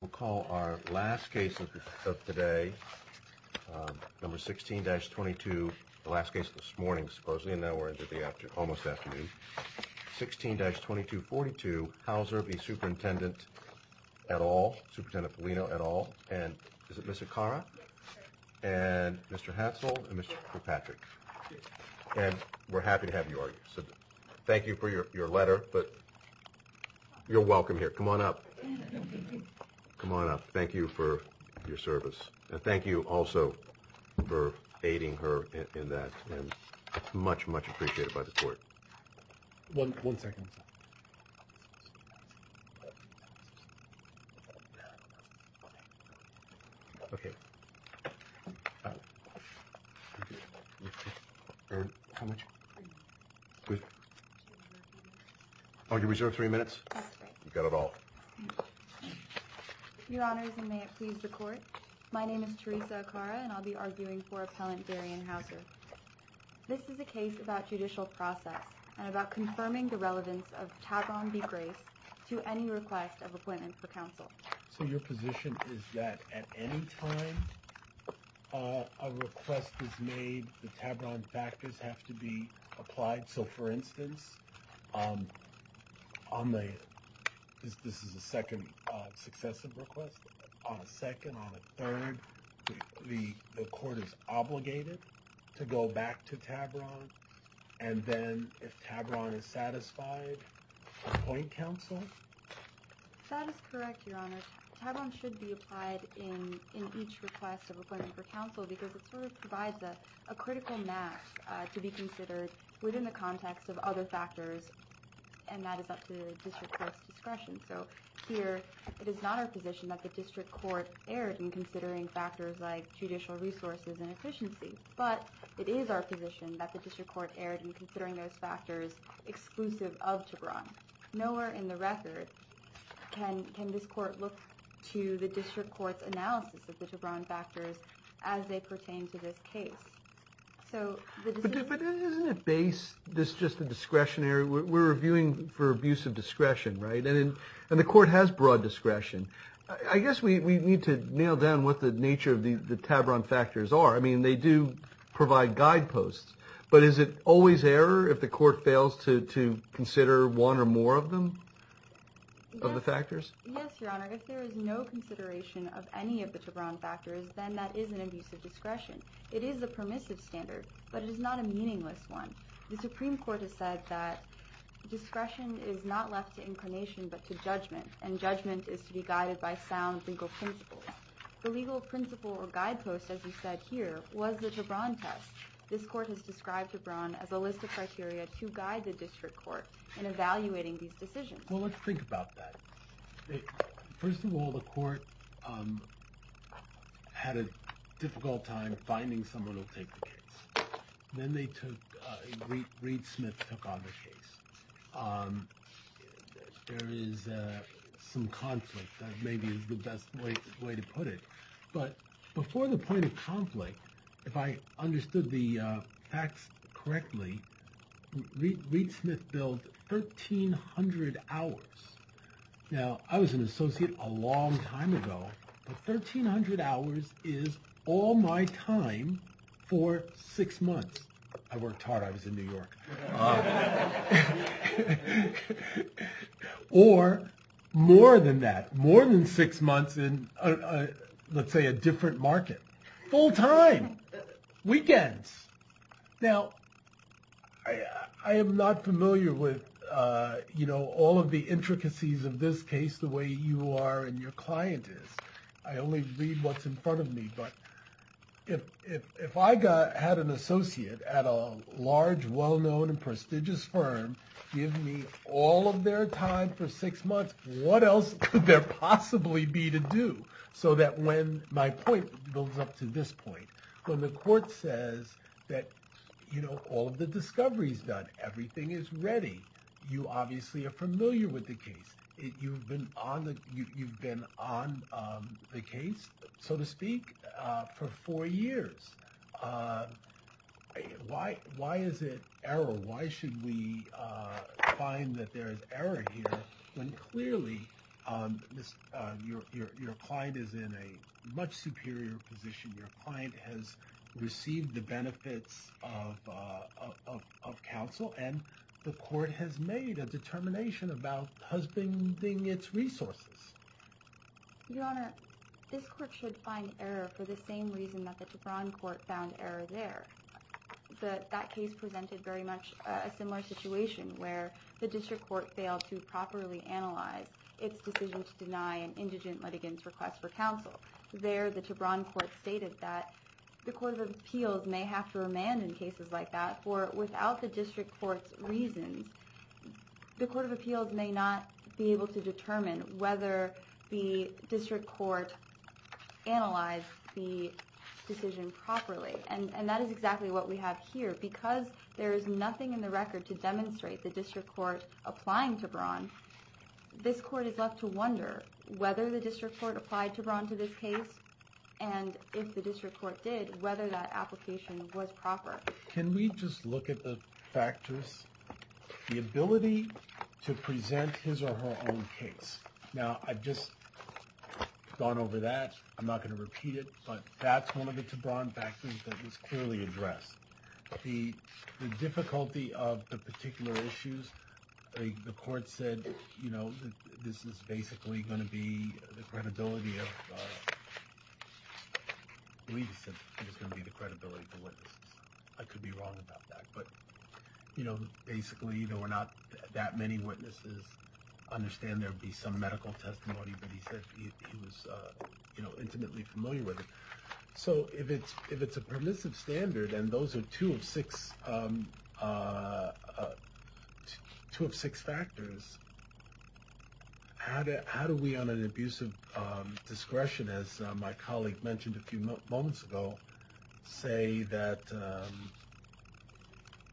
We'll call our last case of the day, number 16-22, the last case this morning supposedly, and now we're into the afternoon, almost afternoon, 16-2242, Houser v. Superintendent et al., Superintendent Folino et al., and is it Mr. Khara? Yes, sir. And Mr. Hadsall and Mr. Kirkpatrick. Yes, sir. And we're happy to have you. Thank you for your letter, but you're welcome here. Come on up. Come on up. Thank you for your service, and thank you also for aiding her in that, and it's much, much appreciated by the court. Okay. How much? Oh, you reserved three minutes? That's right. You got it all. Your Honors, and may it please the court, my name is Teresa Khara, and I'll be arguing for Appellant Darien Houser. This is a case about judicial process and about confirming the relevance of Tavron v. Grace to any request of appointment for counsel. So your position is that at any time a request is made, the Tavron factors have to be applied? So, for instance, on the – this is the second successive request – on the second, on the third, the court is obligated to go back to Tavron, and then if Tavron is satisfied, appoint counsel? That is correct, Your Honors. Tavron should be applied in each request of appointment for counsel because it sort of provides a critical mass to be considered within the context of other factors, and that is up to the district court's discretion. So here it is not our position that the district court erred in considering factors like judicial resources and efficiency, but it is our position that the district court erred in considering those factors exclusive of Tavron. Nowhere in the record can this court look to the district court's analysis of the Tavron factors as they pertain to this case. But isn't it based – this is just a discretionary – we're reviewing for abuse of discretion, right? And the court has broad discretion. I guess we need to nail down what the nature of the Tavron factors are. I mean, they do provide guideposts, but is it always error if the court fails to consider one or more of them, of the factors? Yes, Your Honor. If there is no consideration of any of the Tavron factors, then that is an abuse of discretion. It is a permissive standard, but it is not a meaningless one. The Supreme Court has said that discretion is not left to inclination but to judgment, and judgment is to be guided by sound legal principles. The legal principle or guidepost, as you said here, was the Tavron test. This court has described Tavron as a list of criteria to guide the district court in evaluating these decisions. Well, let's think about that. First of all, the court had a difficult time finding someone to take the case. Then they took – Reid Smith took on the case. There is some conflict. That may be the best way to put it. But before the point of conflict, if I understood the facts correctly, Reid Smith billed 1,300 hours. Now, I was an associate a long time ago, but 1,300 hours is all my time for six months. I worked hard. I was in New York. Or more than that, more than six months in, let's say, a different market. Full time. Weekends. Now, I am not familiar with all of the intricacies of this case the way you are and your client is. I only read what's in front of me. But if I had an associate at a large, well-known and prestigious firm give me all of their time for six months, what else could there possibly be to do? So that when my point builds up to this point, when the court says that all of the discovery is done, everything is ready, you obviously are familiar with the case. You've been on the case, so to speak, for four years. Why is it error? Why should we find that there is error here when clearly your client is in a much superior position? Your client has received the benefits of counsel, and the court has made a determination about husbanding its resources. Your Honor, this court should find error for the same reason that the Tebron court found error there. That case presented very much a similar situation where the district court failed to properly analyze its decision to deny an indigent litigant's request for counsel. There, the Tebron court stated that the court of appeals may have to remand in cases like that for without the district court's reasons. The court of appeals may not be able to determine whether the district court analyzed the decision properly, and that is exactly what we have here. Because there is nothing in the record to demonstrate the district court applying Tebron, this court is left to wonder whether the district court applied Tebron to this case, and if the district court did, whether that application was proper. Can we just look at the factors? The ability to present his or her own case. Now, I've just gone over that. I'm not going to repeat it, but that's one of the Tebron factors that was clearly addressed. The difficulty of the particular issues, the court said, you know, this is basically going to be the credibility of witnesses. I could be wrong about that, but, you know, basically there were not that many witnesses. I understand there would be some medical testimony, but he said he was, you know, intimately familiar with it. So if it's a permissive standard, and those are two of six factors, how do we on an abuse of discretion, as my colleague mentioned a few moments ago, say that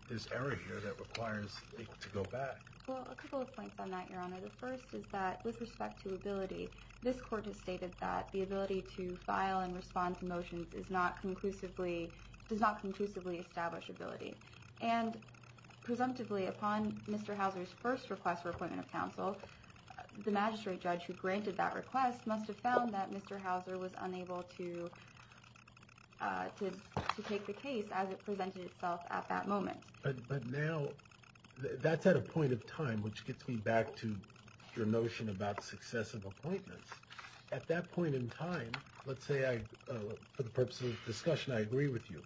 there's error here that requires it to go back? Well, a couple of points on that, Your Honor. The first is that with respect to ability, this court has stated that the ability to file and respond to motions does not conclusively establish ability. And presumptively, upon Mr. Hauser's first request for appointment of counsel, the magistrate judge who granted that request must have found that Mr. Hauser was unable to take the case as it presented itself at that moment. But now, that's at a point of time, which gets me back to your notion about successive appointments. At that point in time, let's say I, for the purpose of discussion, I agree with you.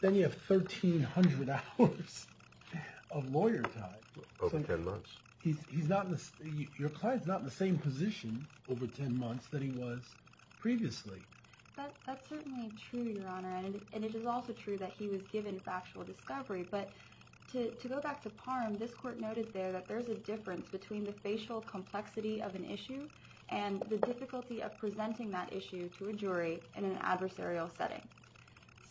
Then you have 1,300 hours of lawyer time. Over 10 months. He's not, your client's not in the same position over 10 months that he was previously. That's certainly true, Your Honor, and it is also true that he was given factual discovery. But to go back to Parham, this court noted there that there's a difference between the facial complexity of an issue and the difficulty of presenting that issue to a jury in an adversarial setting.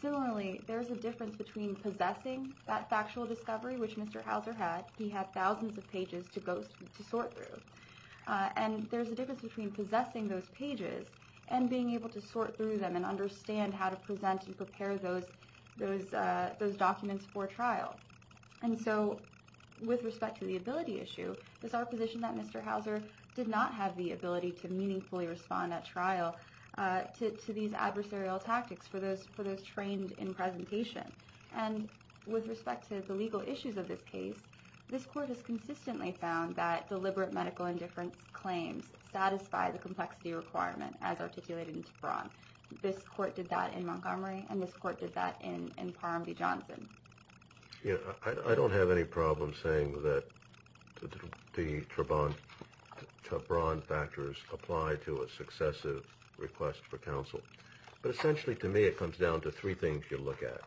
Similarly, there's a difference between possessing that factual discovery, which Mr. Hauser had, he had thousands of pages to sort through. And there's a difference between possessing those pages and being able to sort through them and understand how to present and prepare those documents for trial. And so, with respect to the ability issue, it's our position that Mr. Hauser did not have the ability to meaningfully respond at trial to these adversarial tactics for those trained in presentation. And with respect to the legal issues of this case, this court has consistently found that deliberate medical indifference claims satisfy the complexity requirement as articulated in Trabron. This court did that in Montgomery, and this court did that in Parham v. Johnson. I don't have any problem saying that the Trabron factors apply to a successive request for counsel. But essentially, to me, it comes down to three things you look at.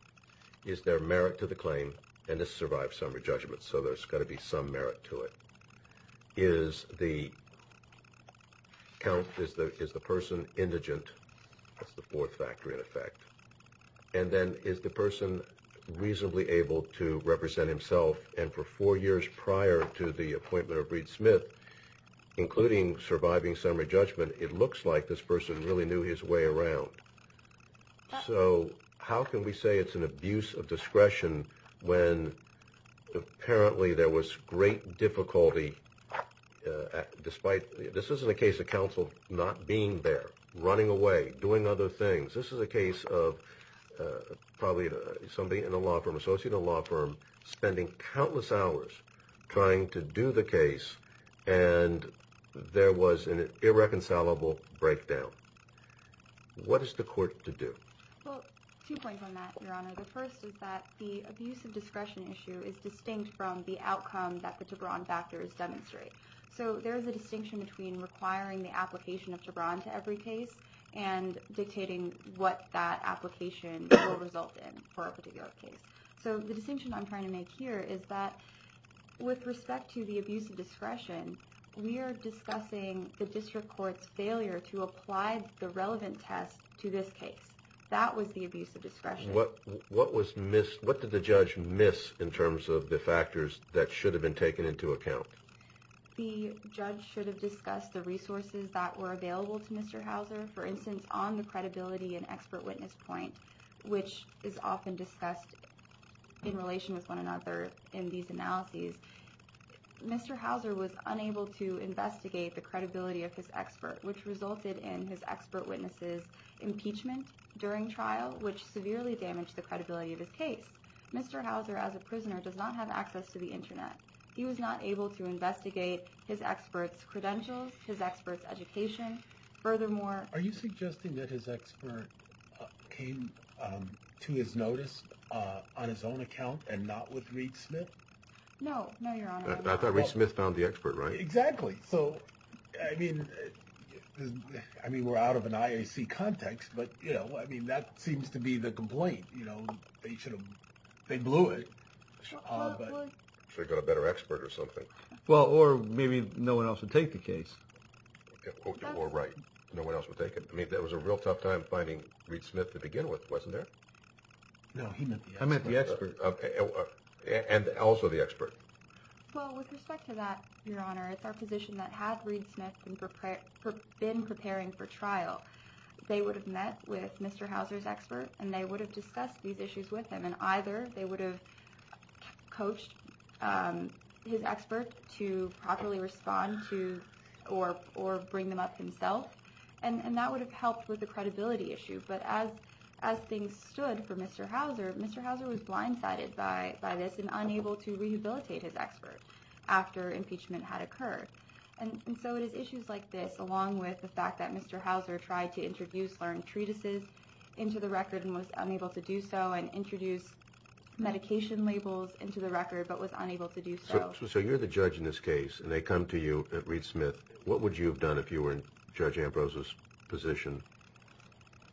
Is there merit to the claim? And this survived summary judgment, so there's got to be some merit to it. Is the person indigent? That's the fourth factor, in effect. And then, is the person reasonably able to represent himself? And for four years prior to the appointment of Reed Smith, including surviving summary judgment, it looks like this person really knew his way around. So how can we say it's an abuse of discretion when apparently there was great difficulty despite – this isn't a case of counsel not being there, running away, doing other things. This is a case of probably somebody in a law firm, an associate in a law firm, spending countless hours trying to do the case, and there was an irreconcilable breakdown. What is the court to do? Well, two points on that, Your Honor. The first is that the abuse of discretion issue is distinct from the outcome that the Trabron factors demonstrate. So there is a distinction between requiring the application of Trabron to every case and dictating what that application will result in for a particular case. So the distinction I'm trying to make here is that with respect to the abuse of discretion, we are discussing the district court's failure to apply the relevant test to this case. That was the abuse of discretion. What did the judge miss in terms of the factors that should have been taken into account? The judge should have discussed the resources that were available to Mr. Hauser. For instance, on the credibility and expert witness point, which is often discussed in relation with one another in these analyses, Mr. Hauser was unable to investigate the credibility of his expert, which resulted in his expert witness's impeachment during trial, which severely damaged the credibility of his case. Mr. Hauser, as a prisoner, does not have access to the Internet. He was not able to investigate his expert's credentials, his expert's education. Furthermore— Are you suggesting that his expert came to his notice on his own account and not with Reed Smith? No, Your Honor. I thought Reed Smith found the expert, right? Exactly. So, I mean, we're out of an IAC context, but that seems to be the complaint. They blew it. Should have got a better expert or something. Well, or maybe no one else would take the case. Or right. No one else would take it. I mean, that was a real tough time finding Reed Smith to begin with, wasn't there? No, he met the expert. I met the expert. And also the expert. Well, with respect to that, Your Honor, it's our position that had Reed Smith been preparing for trial, they would have met with Mr. Hauser's expert, and they would have discussed these issues with him. And either they would have coached his expert to properly respond to or bring them up himself, and that would have helped with the credibility issue. But as things stood for Mr. Hauser, Mr. Hauser was blindsided by this and unable to rehabilitate his expert after impeachment had occurred. And so it is issues like this, along with the fact that Mr. Hauser tried to introduce learned treatises into the record and was unable to do so, and introduced medication labels into the record but was unable to do so. So you're the judge in this case, and they come to you at Reed Smith. What would you have done if you were in Judge Ambrose's position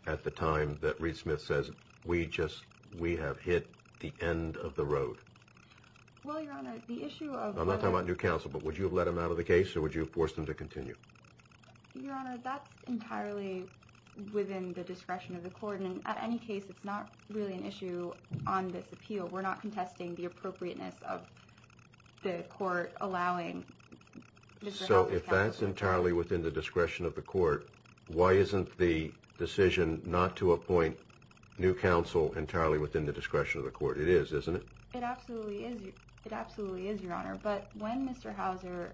at the time that Reed Smith says, we have hit the end of the road? Well, Your Honor, the issue of... I'm not talking about new counsel, but would you have let him out of the case, or would you have forced him to continue? Your Honor, that's entirely within the discretion of the court. And in any case, it's not really an issue on this appeal. We're not contesting the appropriateness of the court allowing Mr. Hauser to... So if that's entirely within the discretion of the court, why isn't the decision not to appoint new counsel entirely within the discretion of the court? It is, isn't it? It absolutely is, Your Honor. But when Mr. Hauser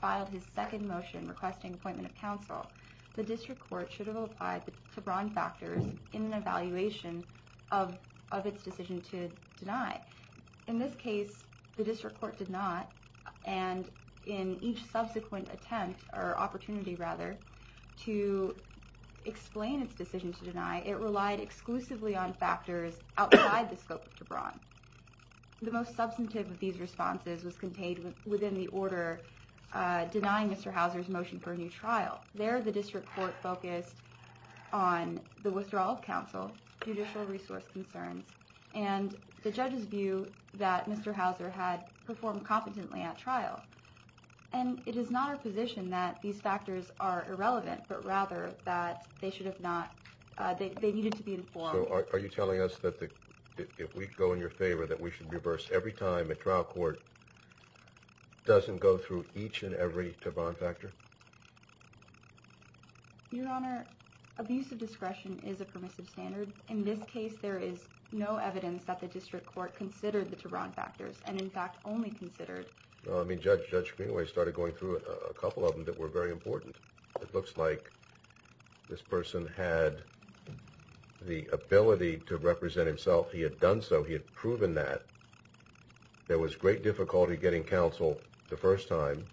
filed his second motion requesting appointment of counsel, the district court should have applied the Tebron factors in an evaluation of its decision to deny. In this case, the district court did not, and in each subsequent attempt, or opportunity rather, to explain its decision to deny, it relied exclusively on factors outside the scope of Tebron. The most substantive of these responses was contained within the order denying Mr. Hauser's motion for a new trial. There, the district court focused on the withdrawal of counsel, judicial resource concerns, and the judge's view that Mr. Hauser had performed competently at trial. And it is not our position that these factors are irrelevant, but rather that they should have not... they needed to be informed. So are you telling us that if we go in your favor that we should reverse every time a trial court doesn't go through each and every Tebron factor? Your Honor, abuse of discretion is a permissive standard. In this case, there is no evidence that the district court considered the Tebron factors, and in fact only considered... I mean, Judge Greenway started going through a couple of them that were very important. It looks like this person had the ability to represent himself. He had done so. He had proven that. There was great difficulty getting counsel the first time.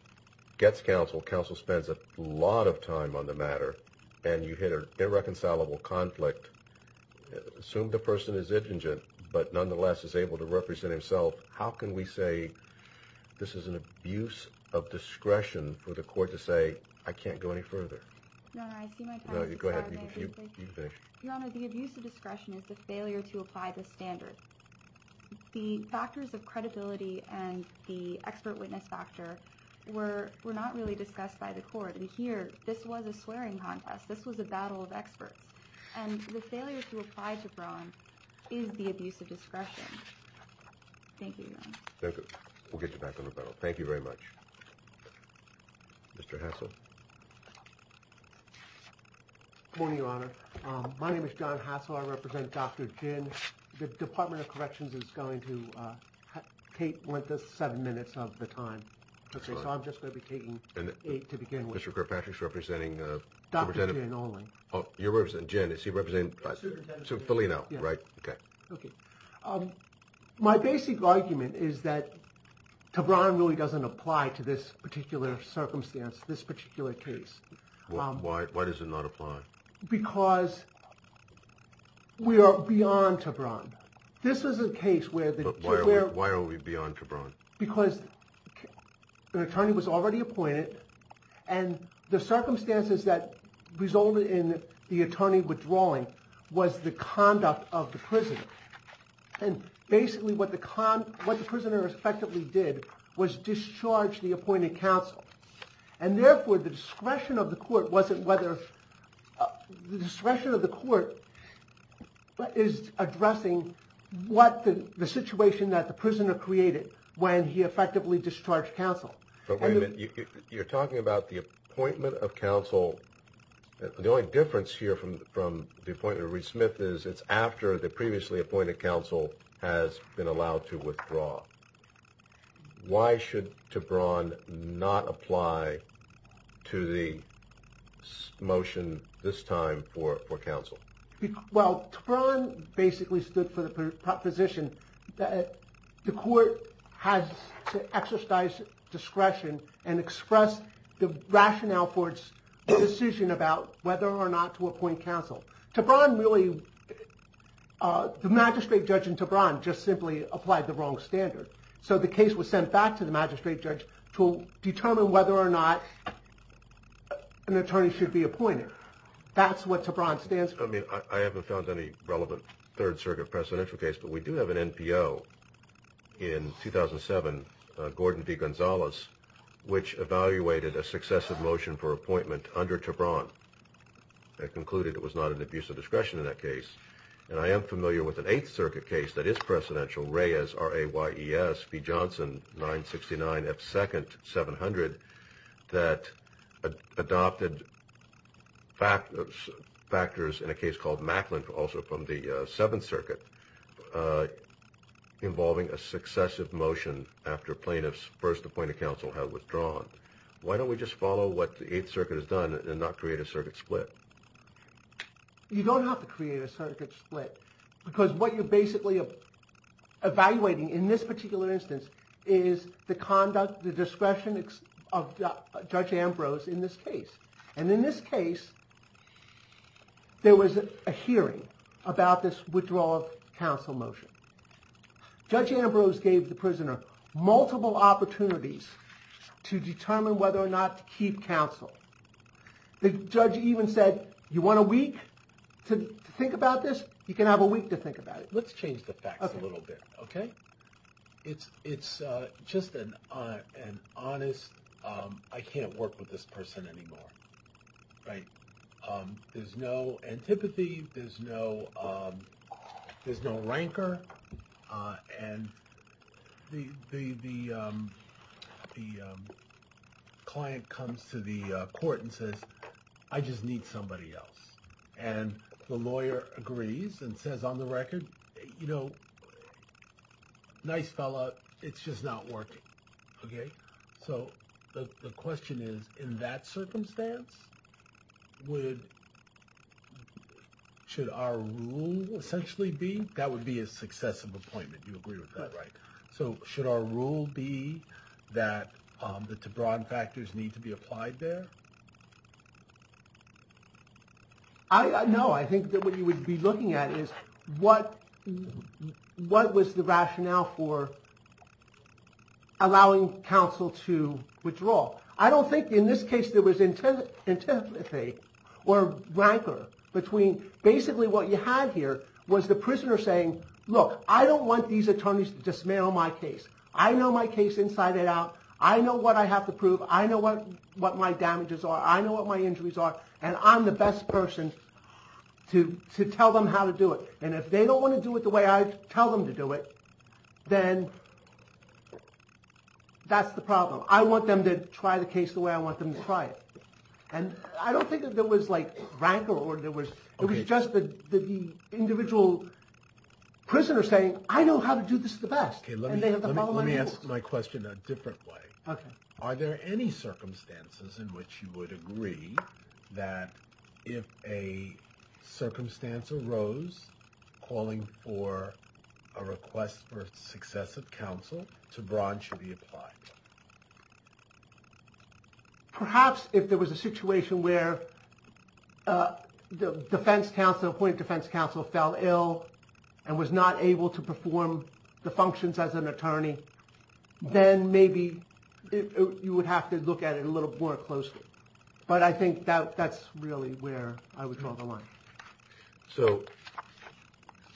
Gets counsel, counsel spends a lot of time on the matter, and you hit an irreconcilable conflict. Assume the person is indigent, but nonetheless is able to represent himself. How can we say this is an abuse of discretion for the court to say, I can't go any further? Your Honor, I see my time is up. Go ahead. You can finish. Your Honor, the abuse of discretion is the failure to apply the standard. The factors of credibility and the expert witness factor were not really discussed by the court. And here, this was a swearing contest. This was a battle of experts. And the failure to apply Tebron is the abuse of discretion. Thank you, Your Honor. Thank you. We'll get you back on the panel. Thank you very much. Mr. Hassel. Good morning, Your Honor. My name is John Hassel. I represent Dr. Jin. The Department of Corrections is going to take seven minutes of the time. Okay, so I'm just going to be taking eight to begin with. Mr. Kirkpatrick's representing? Dr. Jin only. Oh, you're representing Jin. Is he representing? Superintendent. Superintendent Filino, right? Okay. My basic argument is that Tebron really doesn't apply to this particular circumstance, this particular case. Why does it not apply? Because we are beyond Tebron. This is a case where the… Why are we beyond Tebron? Because an attorney was already appointed, and the circumstances that resulted in the attorney withdrawing was the conduct of the prisoner. And basically what the prisoner effectively did was discharge the appointed counsel. And therefore the discretion of the court wasn't whether… the discretion of the court is addressing what the situation that the prisoner created when he effectively discharged counsel. But wait a minute. You're talking about the appointment of counsel. The only difference here from the appointment of Reed Smith is it's after the previously appointed counsel has been allowed to withdraw. Why should Tebron not apply to the motion this time for counsel? Well, Tebron basically stood for the proposition that the court has to exercise discretion and express the rationale for its decision about whether or not to appoint counsel. Tebron really… the magistrate judge in Tebron just simply applied the wrong standard. So the case was sent back to the magistrate judge to determine whether or not an attorney should be appointed. That's what Tebron stands for. I mean, I haven't found any relevant Third Circuit presidential case, but we do have an NPO in 2007, Gordon V. Gonzalez, which evaluated a successive motion for appointment under Tebron. It concluded it was not an abuse of discretion in that case. And I am familiar with an Eighth Circuit case that is presidential, Reyes, R-A-Y-E-S, V. Johnson, 969 F. Second, 700, that adopted factors in a case called Macklin, also from the Seventh Circuit, involving a successive motion after plaintiffs first appointed counsel have withdrawn. Why don't we just follow what the Eighth Circuit has done and not create a circuit split? You don't have to create a circuit split because what you're basically evaluating in this particular instance is the conduct, the discretion of Judge Ambrose in this case. And in this case, there was a hearing about this withdrawal of counsel motion. Judge Ambrose gave the prisoner multiple opportunities to determine whether or not to keep counsel. The judge even said, you want a week to think about this? You can have a week to think about it. Let's change the facts a little bit, okay? It's just an honest, I can't work with this person anymore, right? There's no antipathy, there's no rancor, and the client comes to the court and says, I just need somebody else. And the lawyer agrees and says on the record, you know, nice fella, it's just not working, okay? So the question is, in that circumstance, should our rule essentially be, that would be a successive appointment, you agree with that, right? So should our rule be that the Tebron factors need to be applied there? No, I think that what you would be looking at is what was the rationale for allowing counsel to withdraw? I don't think in this case there was antipathy or rancor between basically what you had here was the prisoner saying, look, I don't want these attorneys to dismantle my case. I know my case inside and out. I know what I have to prove. I know what my damages are. I know what my injuries are. And I'm the best person to tell them how to do it. And if they don't want to do it the way I tell them to do it, then that's the problem. I want them to try the case the way I want them to try it. And I don't think that there was like rancor or there was, it was just the individual prisoner saying, I know how to do this the best. Let me ask my question a different way. Are there any circumstances in which you would agree that if a circumstance arose calling for a request for successive counsel to branch to be applied? Perhaps if there was a situation where the defense counsel appointed defense counsel fell ill and was not able to perform the functions as an attorney, then maybe you would have to look at it a little more closely. But I think that that's really where I would draw the line. So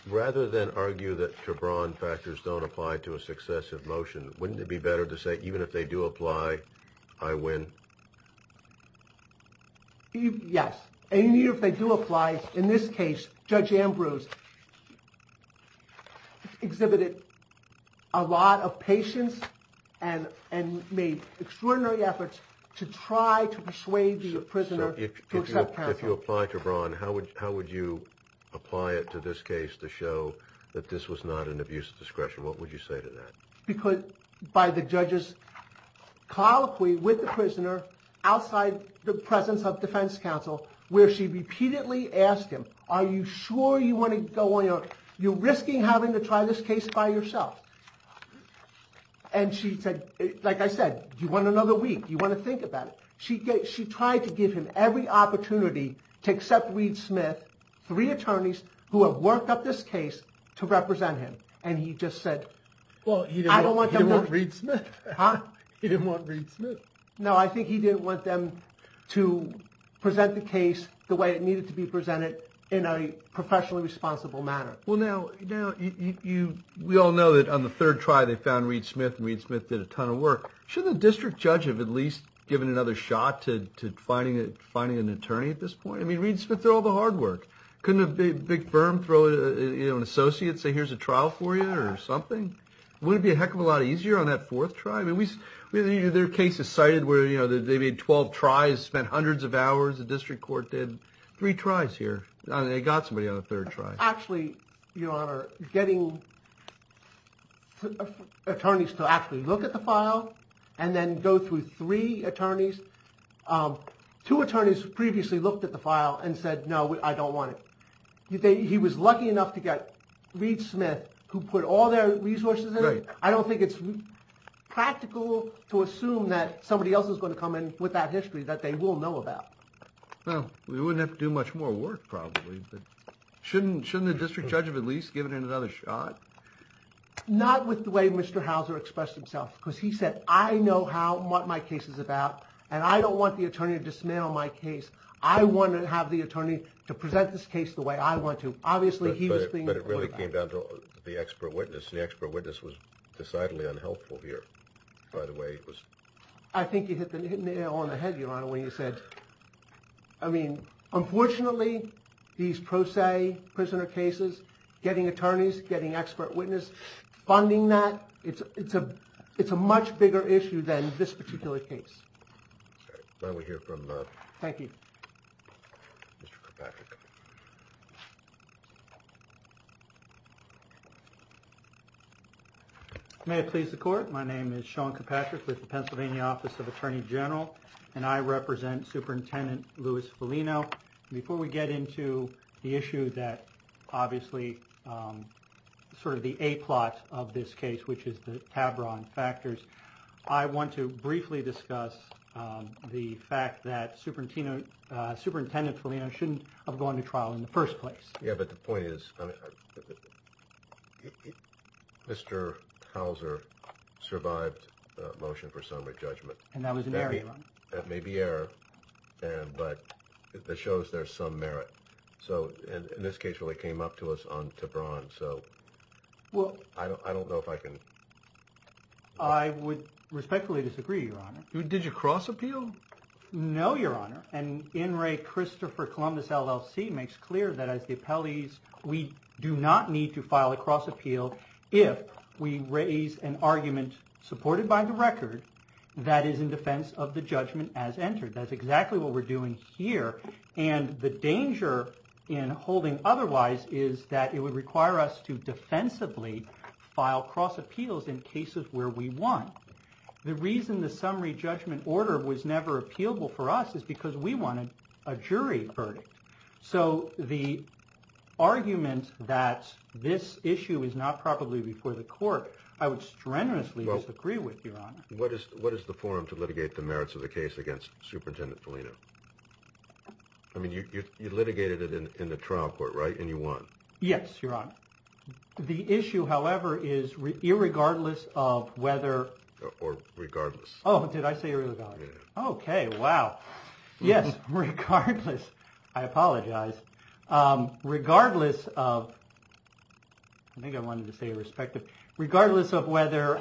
rather than argue that Tebron factors don't apply to a successive motion, wouldn't it be better to say even if they do apply, I win? Yes. And even if they do apply, in this case, Judge Ambrose exhibited a lot of patience and made extraordinary efforts to try to persuade the prisoner to accept counsel. If you apply Tebron, how would you apply it to this case to show that this was not an abuse of discretion? What would you say to that? Because by the judge's colloquy with the prisoner outside the presence of defense counsel, where she repeatedly asked him, are you sure you want to go on your own? You're risking having to try this case by yourself. And she said, like I said, do you want another week? Do you want to think about it? She tried to give him every opportunity to accept Reed Smith, three attorneys who have worked up this case to represent him. And he just said, well, he didn't want Reed Smith. Huh? He didn't want Reed Smith. No, I think he didn't want them to present the case the way it needed to be presented in a professionally responsible manner. Well, now, we all know that on the third try they found Reed Smith, and Reed Smith did a ton of work. Shouldn't the district judge have at least given another shot to finding an attorney at this point? I mean, Reed Smith did all the hard work. Couldn't a big firm throw an associate, say here's a trial for you or something? Wouldn't it be a heck of a lot easier on that fourth try? There are cases cited where they made 12 tries, spent hundreds of hours, the district court did three tries here. I mean, they got somebody on the third try. Actually, Your Honor, getting attorneys to actually look at the file and then go through three attorneys. Two attorneys previously looked at the file and said, no, I don't want it. He was lucky enough to get Reed Smith, who put all their resources in it. I don't think it's practical to assume that somebody else is going to come in with that history that they will know about. Well, we wouldn't have to do much more work probably, but shouldn't the district judge have at least given it another shot? Not with the way Mr. Houser expressed himself, because he said, I know what my case is about, and I don't want the attorney to dismantle my case. I want to have the attorney to present this case the way I want to. Obviously, he was being reported on. But it really came down to the expert witness, and the expert witness was decidedly unhelpful here, by the way. I think you hit the nail on the head, Your Honor, when you said, I mean, unfortunately, these pro se prisoner cases, getting attorneys, getting expert witness, funding that, it's a much bigger issue than this particular case. May we hear from Mr. Karpatrick? May it please the court. My name is Sean Karpatrick with the Pennsylvania Office of Attorney General, and I represent Superintendent Louis Foligno. Before we get into the issue that obviously sort of the A-plot of this case, which is the Tavron factors, I want to briefly discuss the fact that Superintendent Foligno shouldn't have gone to trial in the first place. Yeah, but the point is, Mr. Houser survived the motion for summary judgment. And that was an error, Your Honor. That may be error, but it shows there's some merit. So, and this case really came up to us on Tavron, so I don't know if I can... I would respectfully disagree, Your Honor. Did you cross appeal? No, Your Honor. And in re Christopher Columbus LLC makes clear that as the appellees, we do not need to file a cross appeal if we raise an argument supported by the record that is in defense of the judgment as entered. That's exactly what we're doing here. And the danger in holding otherwise is that it would require us to defensively file cross appeals in cases where we won. The reason the summary judgment order was never appealable for us is because we wanted a jury verdict. So the argument that this issue is not properly before the court, I would strenuously disagree with, Your Honor. What is the forum to litigate the merits of the case against Superintendent Felino? I mean, you litigated it in the trial court, right? And you won. Yes, Your Honor. The issue, however, is irregardless of whether... Or regardless. Oh, did I say irregardless? Yeah. Okay, wow. Yes, regardless. I apologize. Regardless of... I think I wanted to say irrespective. Regardless of whether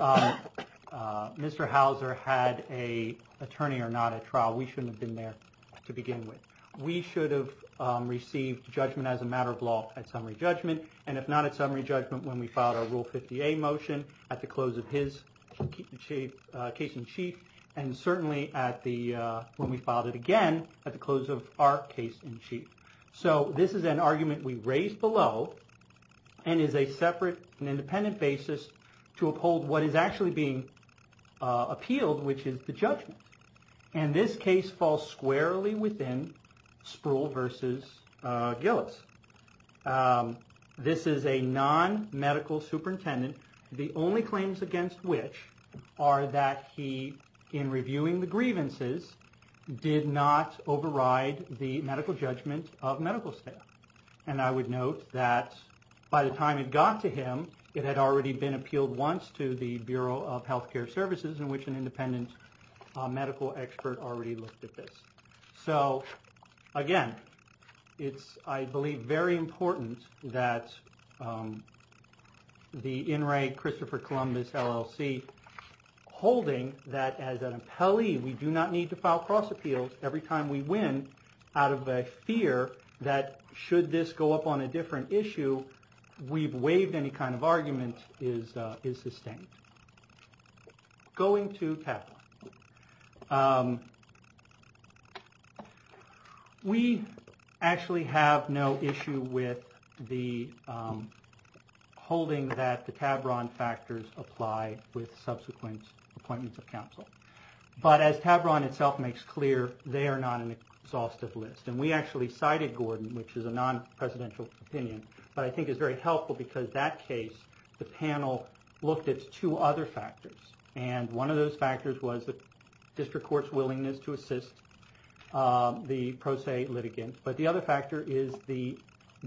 Mr. Hauser had an attorney or not at trial, we shouldn't have been there to begin with. We should have received judgment as a matter of law at summary judgment, and if not at summary judgment when we filed our Rule 50A motion at the close of his case in chief, and certainly when we filed it again at the close of our case in chief. So this is an argument we raised below and is a separate and independent basis to uphold what is actually being appealed, which is the judgment. And this case falls squarely within Spruill v. Gillis. This is a non-medical superintendent, the only claims against which are that he, in reviewing the grievances, did not override the medical judgment of medical staff. And I would note that by the time it got to him, it had already been appealed once to the Bureau of Healthcare Services, in which an independent medical expert already looked at this. So again, it's, I believe, very important that the In Re Christopher Columbus LLC, holding that as an appellee we do not need to file cross appeals every time we win, out of a fear that should this go up on a different issue, we've waived any kind of argument, is sustained. Going to Tavron. We actually have no issue with the holding that the Tavron factors apply with subsequent appointments of counsel. But as Tavron itself makes clear, they are not an exhaustive list. And we actually cited Gordon, which is a non-presidential opinion, but I think is very helpful because that case, the panel looked at two other factors. And one of those factors was the district court's willingness to assist the pro se litigant. But the other factor is the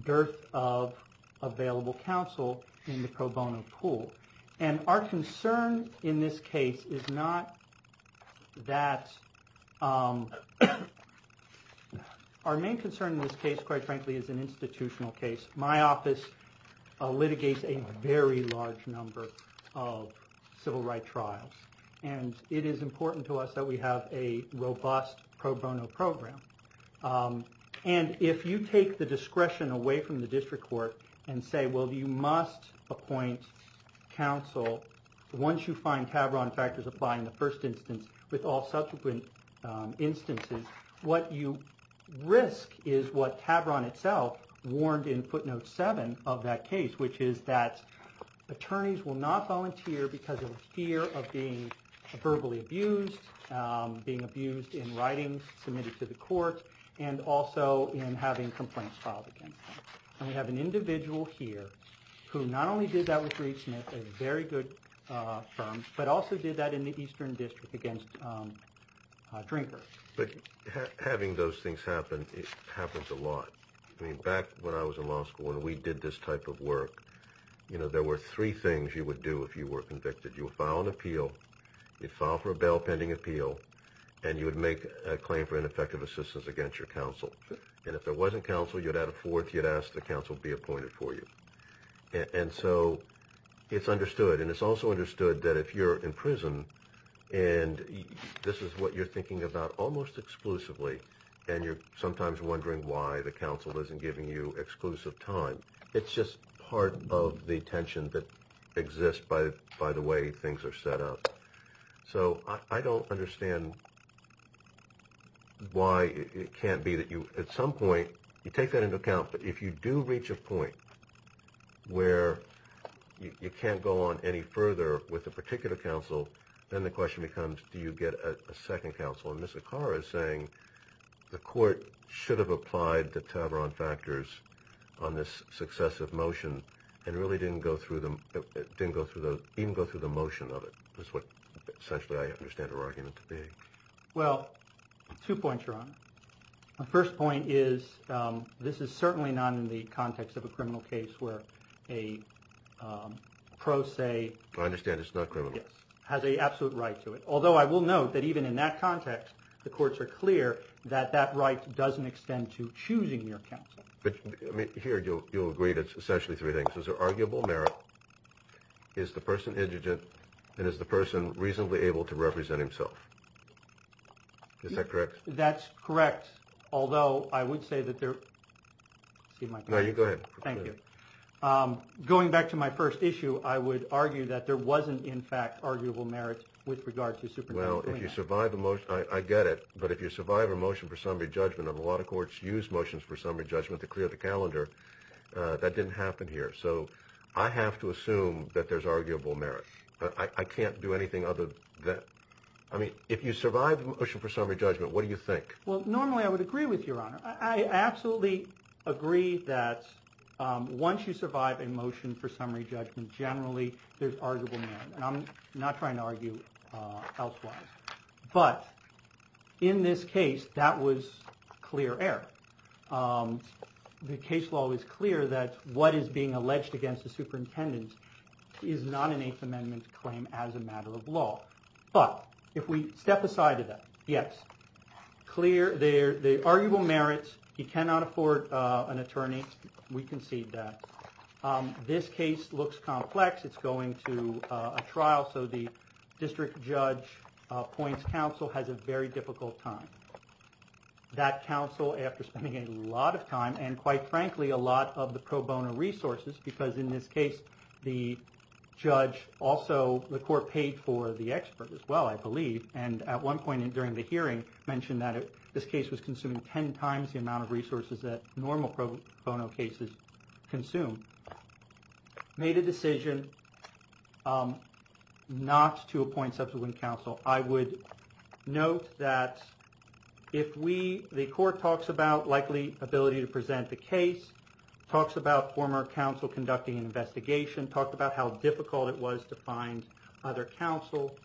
dearth of available counsel in the pro bono pool. And our concern in this case is not that, our main concern in this case, quite frankly, is an institutional case. My office litigates a very large number of civil rights trials. And it is important to us that we have a robust pro bono program. And if you take the discretion away from the district court and say, well, you must appoint counsel, once you find Tavron factors apply in the first instance with all subsequent instances, what you risk is what Tavron itself warned in footnote seven of that case, which is that attorneys will not volunteer because of fear of being verbally abused, being abused in writing, submitted to the court, and also in having complaints filed against them. And we have an individual here who not only did that with Reed Smith, a very good firm, but also did that in the Eastern District against Drinker. But having those things happen, it happens a lot. I mean, back when I was in law school and we did this type of work, you know, there were three things you would do if you were convicted. You would file an appeal, you'd file for a bail pending appeal, and you would make a claim for ineffective assistance against your counsel. And if it wasn't counsel, you'd add a fourth, you'd ask the counsel to be appointed for you. And so it's understood, and it's also understood that if you're in prison and this is what you're thinking about almost exclusively and you're sometimes wondering why the counsel isn't giving you exclusive time, it's just part of the tension that exists by the way things are set up. So I don't understand why it can't be that you at some point, you take that into account, but if you do reach a point where you can't go on any further with a particular counsel, then the question becomes do you get a second counsel. And Ms. Acara is saying the court should have applied the Taveron factors on this successive motion and really didn't go through the motion of it, is what essentially I understand her argument to be. Well, two points, Your Honor. My first point is this is certainly not in the context of a criminal case where a pro se. I understand it's not criminal. Yes. It has an absolute right to it. Although I will note that even in that context, the courts are clear that that right doesn't extend to choosing your counsel. But here you'll agree that it's essentially three things. Is there arguable merit? Is the person indigent? And is the person reasonably able to represent himself? Is that correct? That's correct, although I would say that there – excuse my question. No, you go ahead. Thank you. Going back to my first issue, I would argue that there wasn't, in fact, arguable merit with regard to Superintendent Klinger. Well, if you survive a – I get it. But if you survive a motion for summary judgment, and a lot of courts use motions for summary judgment to clear the calendar, that didn't happen here. So I have to assume that there's arguable merit. I can't do anything other than – I mean, if you survive a motion for summary judgment, what do you think? Well, normally I would agree with you, Your Honor. I absolutely agree that once you survive a motion for summary judgment, generally there's arguable merit. And I'm not trying to argue elsewise. But in this case, that was clear error. The case law is clear that what is being alleged against the superintendent is not an Eighth Amendment claim as a matter of law. But if we step aside to that, yes, clear – the arguable merit, he cannot afford an attorney. We concede that. This case looks complex. It's going to a trial. So the district judge points counsel has a very difficult time. That counsel, after spending a lot of time, and quite frankly a lot of the pro bono resources, because in this case the judge also – the court paid for the expert as well, I believe, and at one point during the hearing mentioned that this case was consuming ten times the amount of resources that normal pro bono cases consume, made a decision not to appoint subsequent counsel. I would note that if we – the court talks about likely ability to present the case, talks about former counsel conducting an investigation, talks about how difficult it was to find other counsel,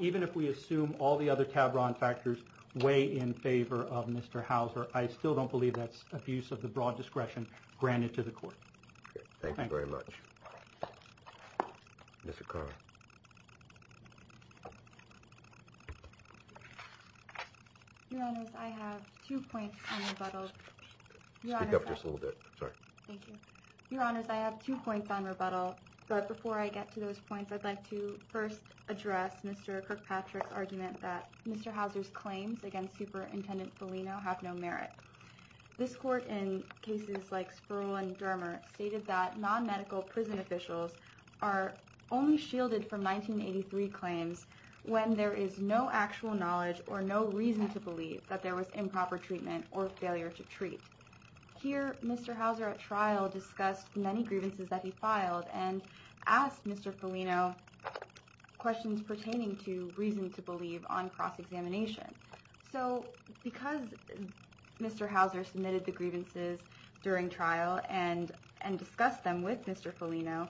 even if we assume all the other Tavron factors weigh in favor of Mr. Houser, I still don't believe that's abuse of the broad discretion granted to the court. Thank you very much. Mr. Carr. Your Honors, I have two points coming, but I'll – speak up just a little bit, sorry. Thank you. Your Honors, I have two points on rebuttal, but before I get to those points I'd like to first address Mr. Kirkpatrick's argument that Mr. Houser's claims against Superintendent Foligno have no merit. This court in cases like Spruill and Dermer stated that non-medical prison officials are only shielded from 1983 claims when there is no actual knowledge or no reason to believe that there was improper treatment or failure to treat. Here Mr. Houser at trial discussed many grievances that he filed and asked Mr. Foligno questions pertaining to reason to believe on cross-examination. So because Mr. Houser submitted the grievances during trial and discussed them with Mr. Foligno,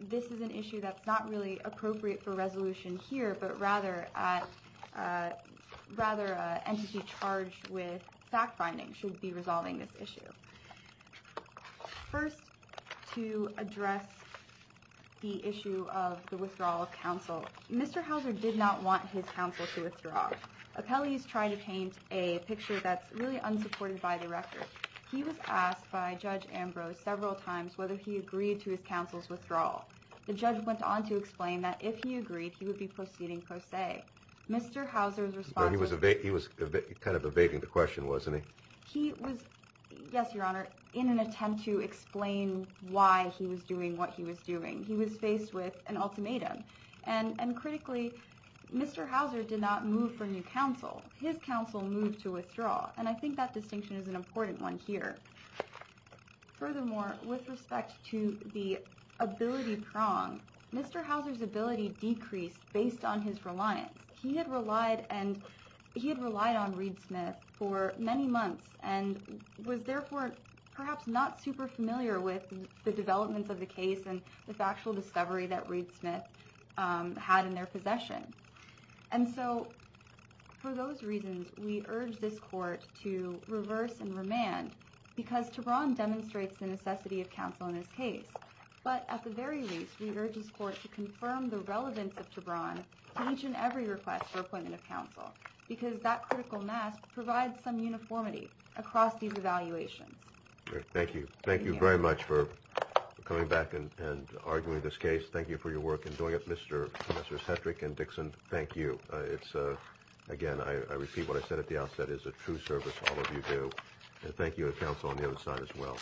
this is an issue that's not really appropriate for resolution here, but rather an entity charged with fact-finding should be resolving this issue. First, to address the issue of the withdrawal of counsel, Mr. Houser did not want his counsel to withdraw. Appellees try to paint a picture that's really unsupported by the record. He was asked by Judge Ambrose several times whether he agreed to his counsel's withdrawal. The judge went on to explain that if he agreed, he would be proceeding per se. Mr. Houser's response was... He was kind of evading the question, wasn't he? He was, yes, Your Honor, in an attempt to explain why he was doing what he was doing. He was faced with an ultimatum. And critically, Mr. Houser did not move for new counsel. His counsel moved to withdraw, and I think that distinction is an important one here. Furthermore, with respect to the ability prong, Mr. Houser's ability decreased based on his reliance. He had relied on Reed Smith for many months and was therefore perhaps not super familiar with the developments of the case and the factual discovery that Reed Smith had in their possession. And so for those reasons, we urge this court to reverse and remand because Tebron demonstrates the necessity of counsel in this case. But at the very least, we urge this court to confirm the relevance of Tebron to each and every request for appointment of counsel because that critical mask provides some uniformity across these evaluations. Thank you. Thank you very much for coming back and arguing this case. Thank you for your work in doing it. Commissioners Hedrick and Dixon, thank you. Again, I repeat what I said at the outset. It is a true service, all of you do. And thank you to counsel on the other side as well.